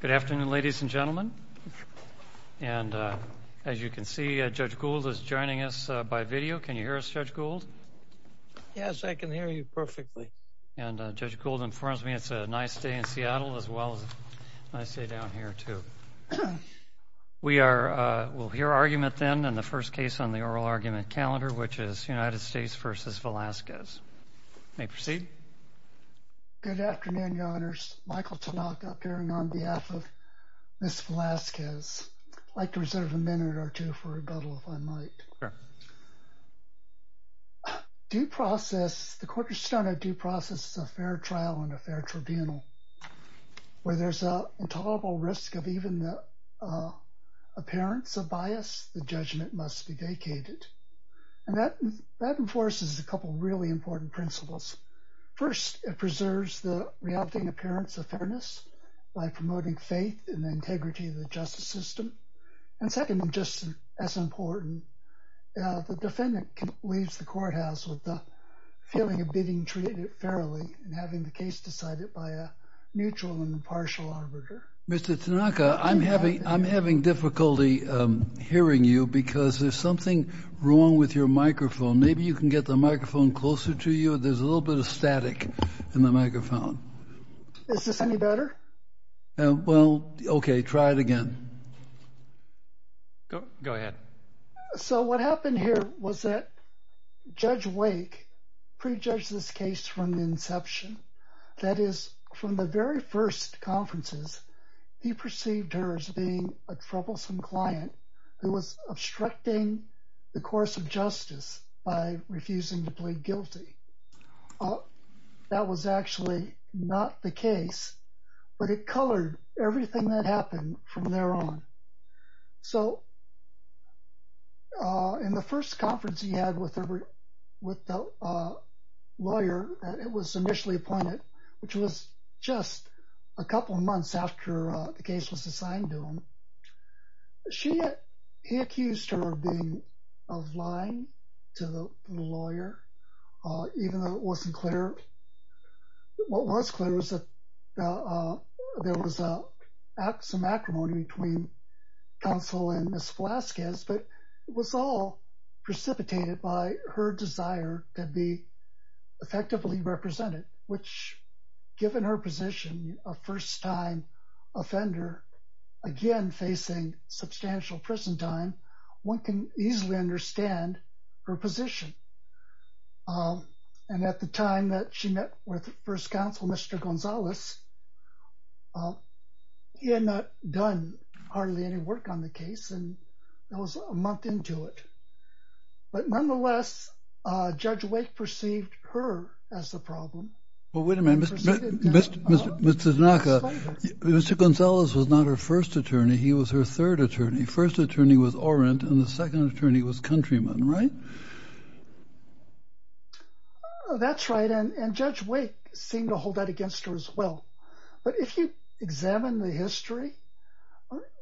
Good afternoon ladies and gentlemen. And as you can see Judge Gould is joining us by video. Can you hear us Judge Gould? Yes, I can hear you perfectly. And Judge Gould informs me it's a nice day in Seattle as well as a nice day down here too. We will hear argument then in the first case on the oral argument calendar which is United States v. Velazquez. May proceed. Good afternoon Your Honors. Michael Tanaka appearing on behalf of Ms. Velazquez. I'd like to reserve a minute or two for rebuttal if I might. The Court of Stone I do process a fair trial and a fair tribunal where there's a intolerable risk of even the appearance of bias the judgment must be vacated. And that enforces a reacting appearance of fairness by promoting faith and integrity of the justice system. And second and just as important the defendant leaves the courthouse with the feeling of being treated fairly and having the case decided by a neutral and impartial arbiter. Mr. Tanaka I'm having I'm having difficulty hearing you because there's something wrong with your microphone. Maybe you can get the microphone closer to you. There's a little bit of static in the microphone. Is this any better? Well okay try it again. Go ahead. So what happened here was that Judge Wake prejudged this case from the inception. That is from the very first conferences he perceived her as being a troublesome client who was obstructing the course of justice by refusing to plead guilty. That was actually not the case but it colored everything that happened from there on. So in the first conference he had with the lawyer it was initially appointed which was just a couple months after the case was assigned to him. He accused her of being of lying to the lawyer even though it wasn't clear. What was clear was that there was some acrimony between counsel and Ms. Velazquez but it was all precipitated by her desire to be facing substantial prison time one can easily understand her position. And at the time that she met with first counsel Mr. Gonzalez he had not done hardly any work on the case and that was a month into it. But nonetheless Judge Wake perceived her as the problem. Well wait a minute. Mr. Tanaka, Mr. Gonzalez was not her first attorney he was her third attorney. First attorney was Orant and the second attorney was Countryman right? That's right and Judge Wake seemed to hold that against her as well. But if you examine the history.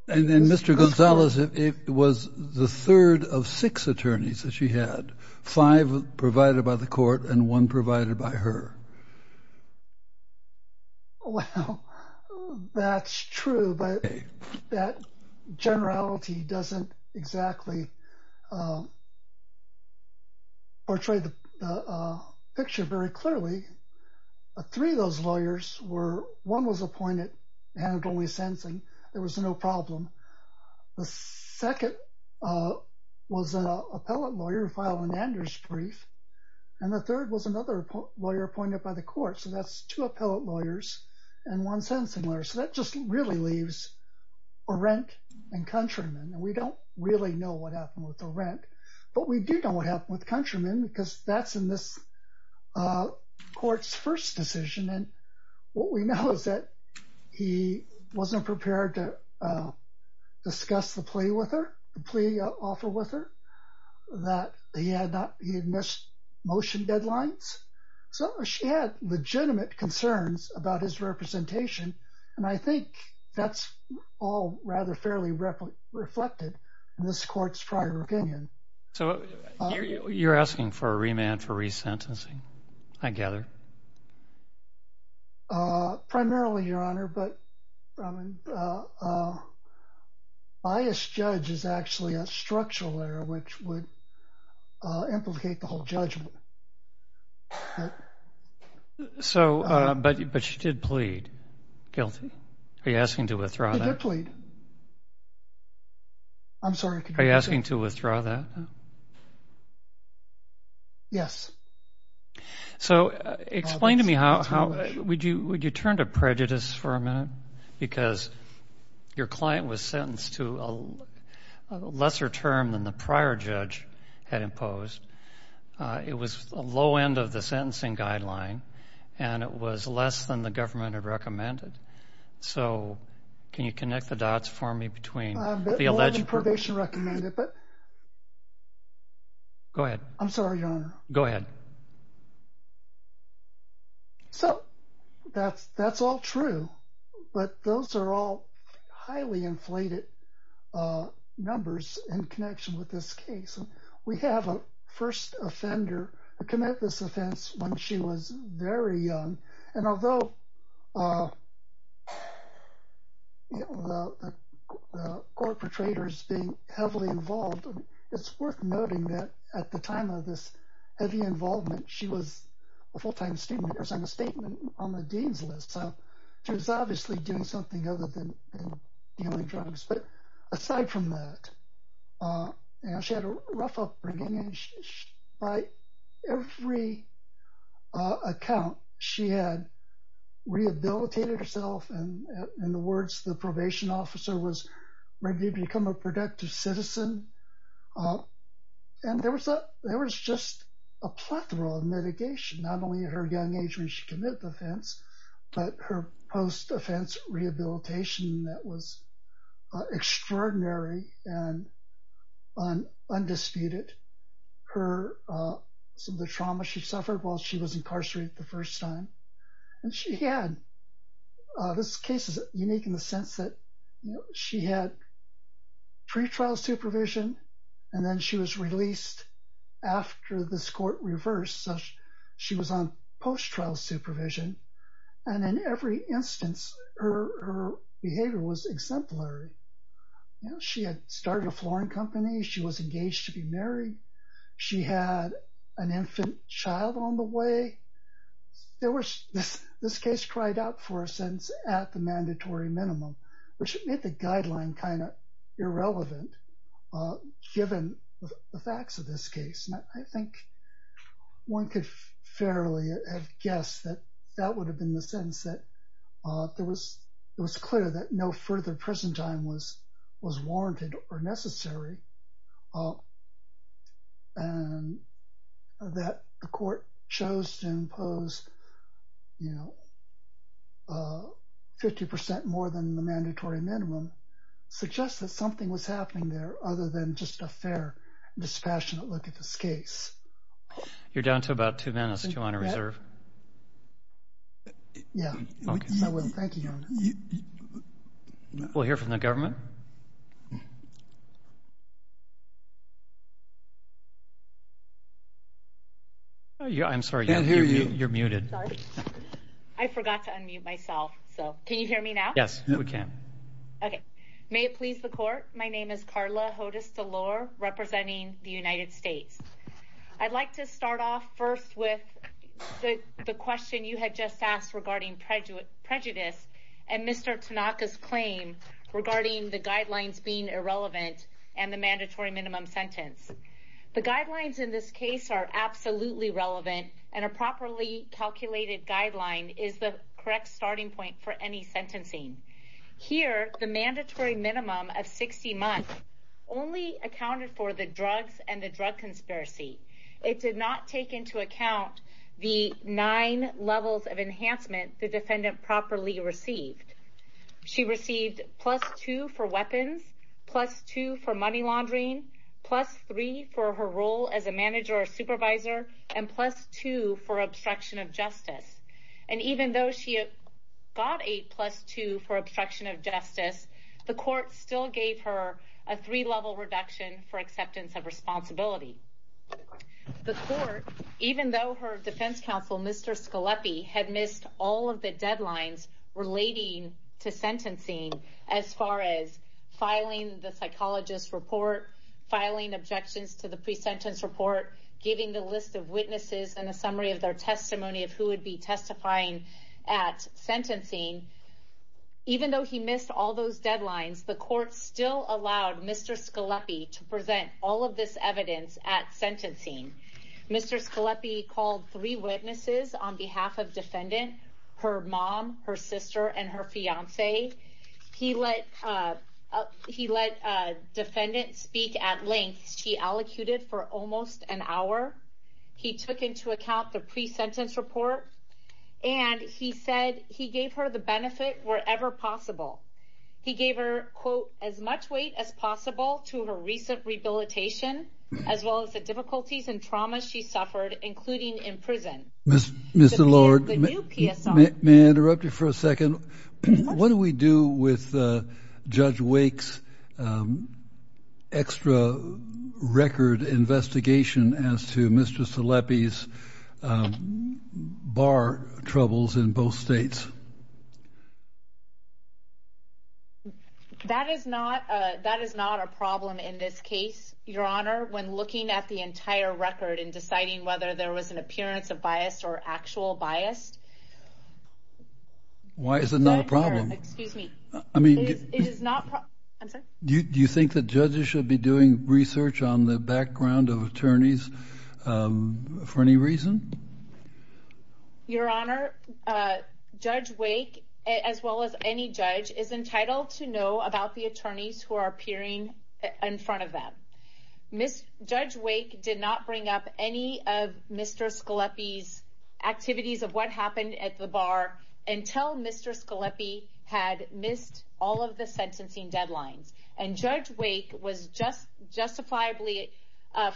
And then Mr. Gonzalez it was the third of six attorneys that she had. Five provided by the court and one provided by her. Well that's true but that generality doesn't exactly portray the picture very clearly. Three of those lawyers were one was appointed and only sensing there was no problem. The second was an appellate lawyer filed an Anders brief and the third was another lawyer appointed by the court. So that's two appellate lawyers and one sentencing lawyer. So that just really leaves Orant and Countryman and we don't really know what happened with Orant but we do know what happened with Countryman because that's in this court's first decision and what we know is that he wasn't prepared to discuss the plea with her, the plea offer with her, that he had missed motion deadlines. So she had legitimate concerns about his representation and I think that's all rather fairly reflected in this court's prior opinion. So you're asking for a remand for resentencing I gather? Primarily your honor but a biased judge is actually a structural error which would implicate the whole judgment. So but she did plead guilty. Are you asking to withdraw that? She did plead. I'm sorry. Are you asking to withdraw that? Yes. So explain to me how would you would you turn to prejudice for a minute because your client was sentenced to a lesser term than the prior judge had imposed. It was a low end of the sentencing guideline and it was less than the government had recommended. So can you connect the dots for me between the alleged... I'm sorry your honor. Go ahead. So that's that's all true but those are all highly inflated numbers in connection with this case. We have a first offender who committed this offense when she was very young and although the court protrator is being heavily involved, it's worth noting that at the time of this heavy involvement she was a full-time student. There's a statement on the dean's list. So she was obviously doing something other than dealing drugs. But aside from that she had a rough upbringing and by every account she had rehabilitated herself and in the words the probation officer was ready to become a productive citizen. And there was a there was just a plethora of mitigation not only at her young age when she committed the offense but her post-offense rehabilitation that was extraordinary and undisputed. Some of the trauma she suffered while she was incarcerated the first time and she had... this case is unique in the sense that she had pre-trial supervision and then she was released after this court reversed. So she was on post-trial supervision and in every instance her behavior was exemplary. She had started a flooring company. She was engaged to be a lawyer. This case cried out for a sentence at the mandatory minimum which made the guideline kind of irrelevant given the facts of this case. I think one could fairly have guessed that that would have been the sentence that there was it was clear that no further prison time was was warranted or necessary and that the court chose to impose you know 50% more than the mandatory minimum suggests that something was happening there other than just a fair dispassionate look at this case. You're down to about two minutes. Do you want to reserve? Yeah. Thank you. We'll hear from the government. Yeah I'm sorry you're muted. I forgot to unmute myself so can you hear me now? Yes we can. Okay. May it please the court my name is Carla Hodes-Delor representing the United States. I'd like to start off first with the question you had just asked regarding prejudice and Mr. Tanaka's claim regarding the guidelines being irrelevant and the mandatory minimum sentence. The guidelines in this case are absolutely relevant and a properly calculated guideline is the correct starting point for any sentencing. Here the mandatory minimum of 60 months only accounted for the drugs and the drug conspiracy. It did not take into account the nine levels of enhancement the defendant properly received. She received plus two for weapons, plus two for money laundering, plus three for her role as a manager or supervisor, and plus two for obstruction of justice. And even though she got a plus two for obstruction of justice, the court still gave her a three level reduction for acceptance of responsibility. The court, even though her defense counsel Mr. Scalepi had missed all of the deadlines relating to sentencing as far as filing the psychologist report, filing objections to the pre-sentence report, giving the list of witnesses and a summary of their testimony of who would be testifying at sentencing. Even though he missed all those deadlines, the court still allowed Mr. Scalepi to present all of this evidence at sentencing. Mr. Scalepi called three witnesses on behalf of defendant, her mom, her sister, and her fiance. He let defendant speak at length. She elocuted for almost an hour. He took into account the pre-sentence report, and he said he gave her the benefit wherever possible. He gave her, quote, as much weight as possible to her recent rehabilitation, as well as the difficulties and trauma she suffered, including in prison. Mr. Lord, may I interrupt you for a second? What do we do with Judge Wake's extra record investigation as to Mr. Scalepi's bar troubles in both states? That is not a problem in this case, Your Honor, when looking at the entire record and deciding whether there was an appearance of bias or actual bias. Why is it not a problem? Do you think that judges should be doing research on the background of attorneys for any reason? Your Honor, Judge Wake, as well as any judge, is entitled to know about the attorneys who are appearing in front of them. Judge Wake did not bring up any of the issues at the bar until Mr. Scalepi had missed all of the sentencing deadlines. Judge Wake was justifiably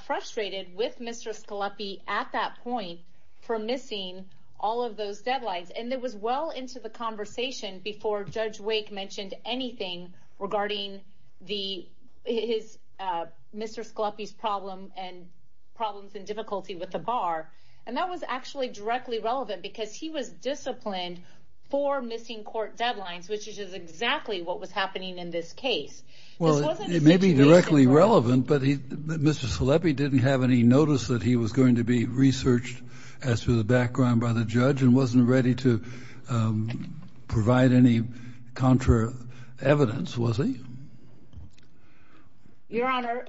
frustrated with Mr. Scalepi at that point for missing all of those deadlines. It was well into the conversation before Judge Wake mentioned anything regarding Mr. Scalepi's problems and difficulties with the bar, and that was actually directly relevant because he was disciplined for missing court deadlines, which is exactly what was happening in this case. Well, it may be directly relevant, but Mr. Scalepi didn't have any notice that he was going to be researched as to the background by the judge and wasn't ready to provide any counter evidence, was he? Your Honor,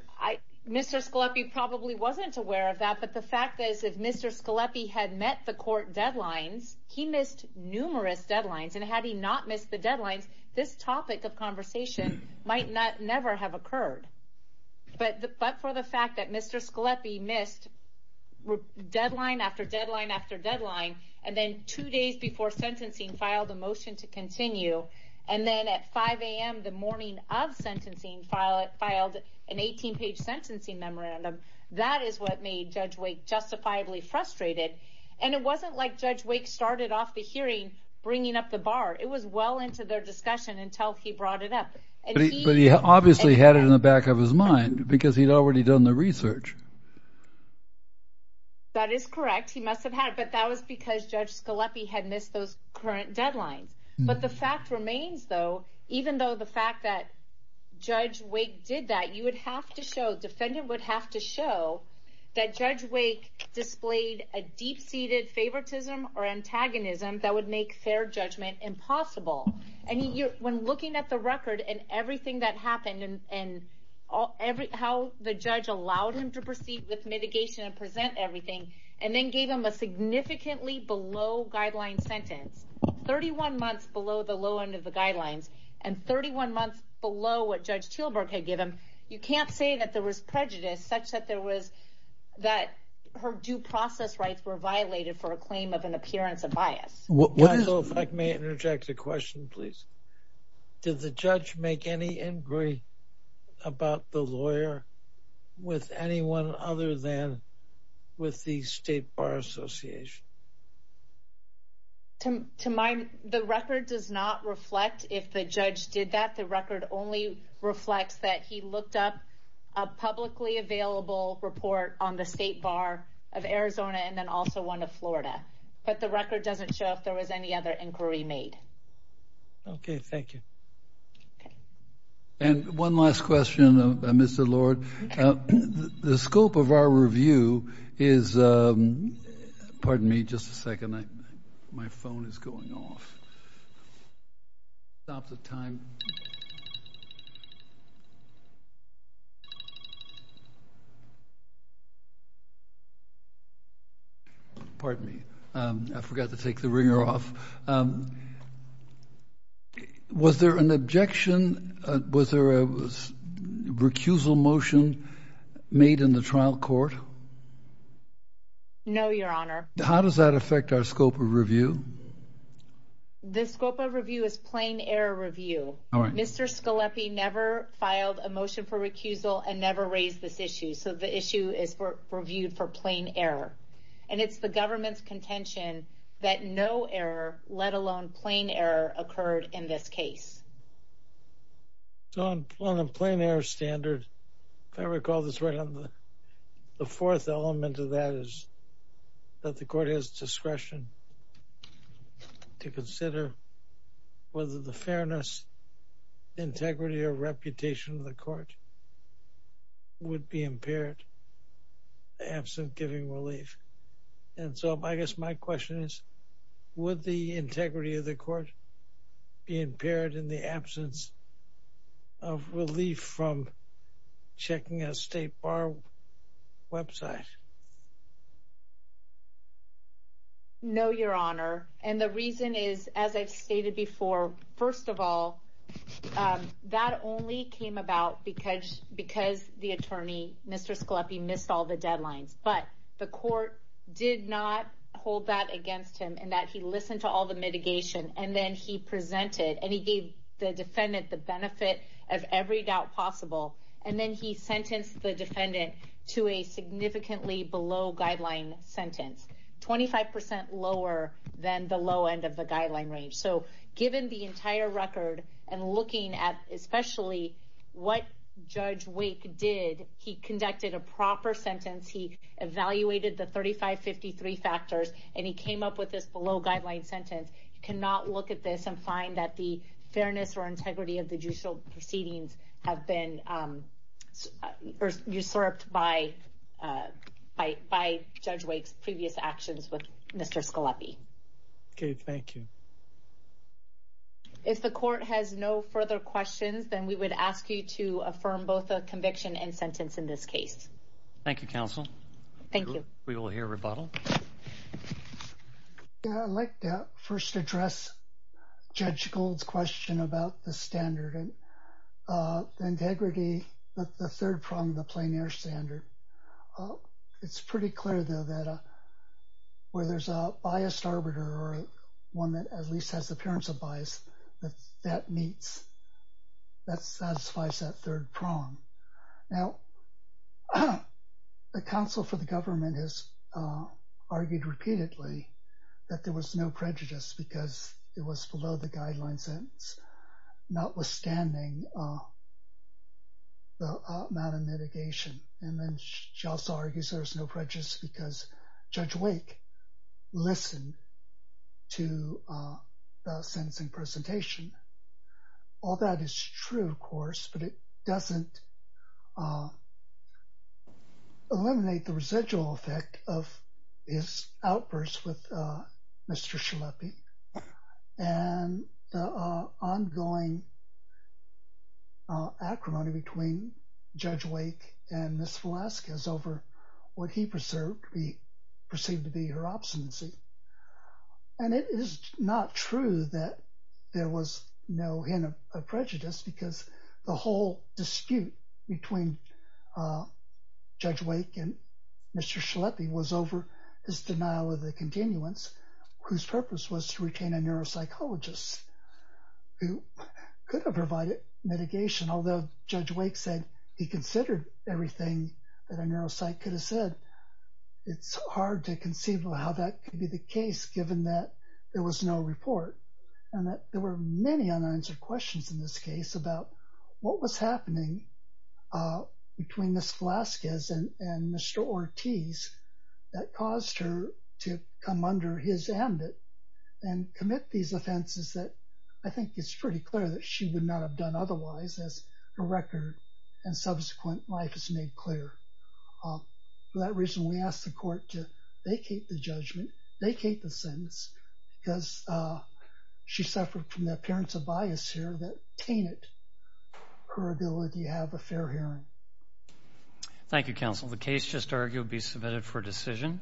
Mr. Scalepi probably wasn't aware of that, but the fact is, if Mr. Scalepi had met the court deadlines, he missed numerous deadlines, and had he not missed the deadlines, this topic of conversation might never have occurred. But for the fact that Mr. Scalepi missed deadline after deadline after deadline, and then two days before sentencing filed a motion to continue, and then at filed an 18-page sentencing memorandum, that is what made Judge Wake justifiably frustrated. And it wasn't like Judge Wake started off the hearing bringing up the bar. It was well into their discussion until he brought it up. But he obviously had it in the back of his mind because he'd already done the research. That is correct. He must have had it, but that was because Judge Scalepi had missed those current deadlines. But the fact remains, though, even though the Judge Wake did that, you would have to show, defendant would have to show that Judge Wake displayed a deep-seated favoritism or antagonism that would make fair judgment impossible. And when looking at the record and everything that happened, and how the judge allowed him to proceed with mitigation and present everything, and then gave him a significantly below-guideline sentence, 31 months below the low end of the guidelines, and 31 months below what Judge Teelberg had given, you can't say that there was prejudice such that there was, that her due process rights were violated for a claim of an appearance of bias. Can I interject a question, please? Did the judge make any inquiry about the lawyer with anyone other than with the State Bar Association? The record does not reflect if the judge did that. The record only reflects that he looked up a publicly available report on the State Bar of Arizona and then also one of Florida. But the record doesn't show if there was any other inquiry made. Okay, thank you. And one last question, Mr. Lord. The scope of our review is, pardon me just a minute. I forgot to take the ringer off. Was there an objection, was there a recusal motion made in the trial court? No, Your Honor. How does that affect our scope of review? The scope of review is plain error review. Mr. Scalepi never filed a motion for recusal and never raised this issue. So the issue is reviewed for plain error. And it's the government's contention that no error, let alone plain error, occurred in this case. So on a plain error standard, if I recall this right, the fourth element of that is that the court has discretion to consider whether the fairness, integrity, or reputation of the court would be impaired absent giving relief. And so I guess my question is, would the integrity of the court be impaired in the absence of recusal? No, Your Honor. And the reason is, as I've stated before, first of all, that only came about because the attorney, Mr. Scalepi, missed all the deadlines. But the court did not hold that against him in that he listened to all the mitigation and then he presented and he gave the defendant the benefit of every doubt possible. And then he sentenced the defendant to a significantly below guideline sentence, 25% lower than the low end of the guideline range. So given the entire record and looking at especially what Judge Wake did, he conducted a proper sentence. He evaluated the 3553 factors and he came up with this below guideline sentence. You cannot look at this and find that the usurped by Judge Wake's previous actions with Mr. Scalepi. Okay, thank you. If the court has no further questions, then we would ask you to affirm both the conviction and sentence in this case. Thank you, counsel. Thank you. We will hear rebuttal. Yeah, I'd like to first address Judge Gold's question about the standard and integrity, the third prong of the plein air standard. It's pretty clear though that where there's a biased arbiter or one that at least has the appearance of bias, that meets, that satisfies that third prong. Now, the counsel for the government has argued repeatedly that there was no prejudice because it was below the guideline sentence, notwithstanding the amount of mitigation. And then she also argues there was no prejudice because Judge Wake listened to the sentencing presentation. All that is true, of course, but it doesn't eliminate the residual effect of his outburst with Mr. Scalepi and the ongoing acrimony between Judge Wake and Ms. Velazquez over what he perceived to be her obstinacy. And it is not true that there was no hint of prejudice because the whole dispute between Judge Wake and Mr. Scalepi was over his denial of the continuance, whose purpose was to retain a neuropsychologist who could have provided mitigation, although Judge Wake said he considered everything that a neuropsych could have said. It's hard to conceive of how that could be the case, given that there was no report and that there were many unanswered questions in this case about what was happening between Ms. Velazquez and Mr. Ortiz that caused her to come under his ambit and commit these offenses that I think it's pretty clear that she would not have done otherwise, as the record and subsequent life has made clear. For that reason, we asked the court to vacate the judgment, vacate the sentence, because she suffered from the appearance of bias here that tainted her ability to have a fair hearing. Thank you, counsel. The case just argued be submitted for decision.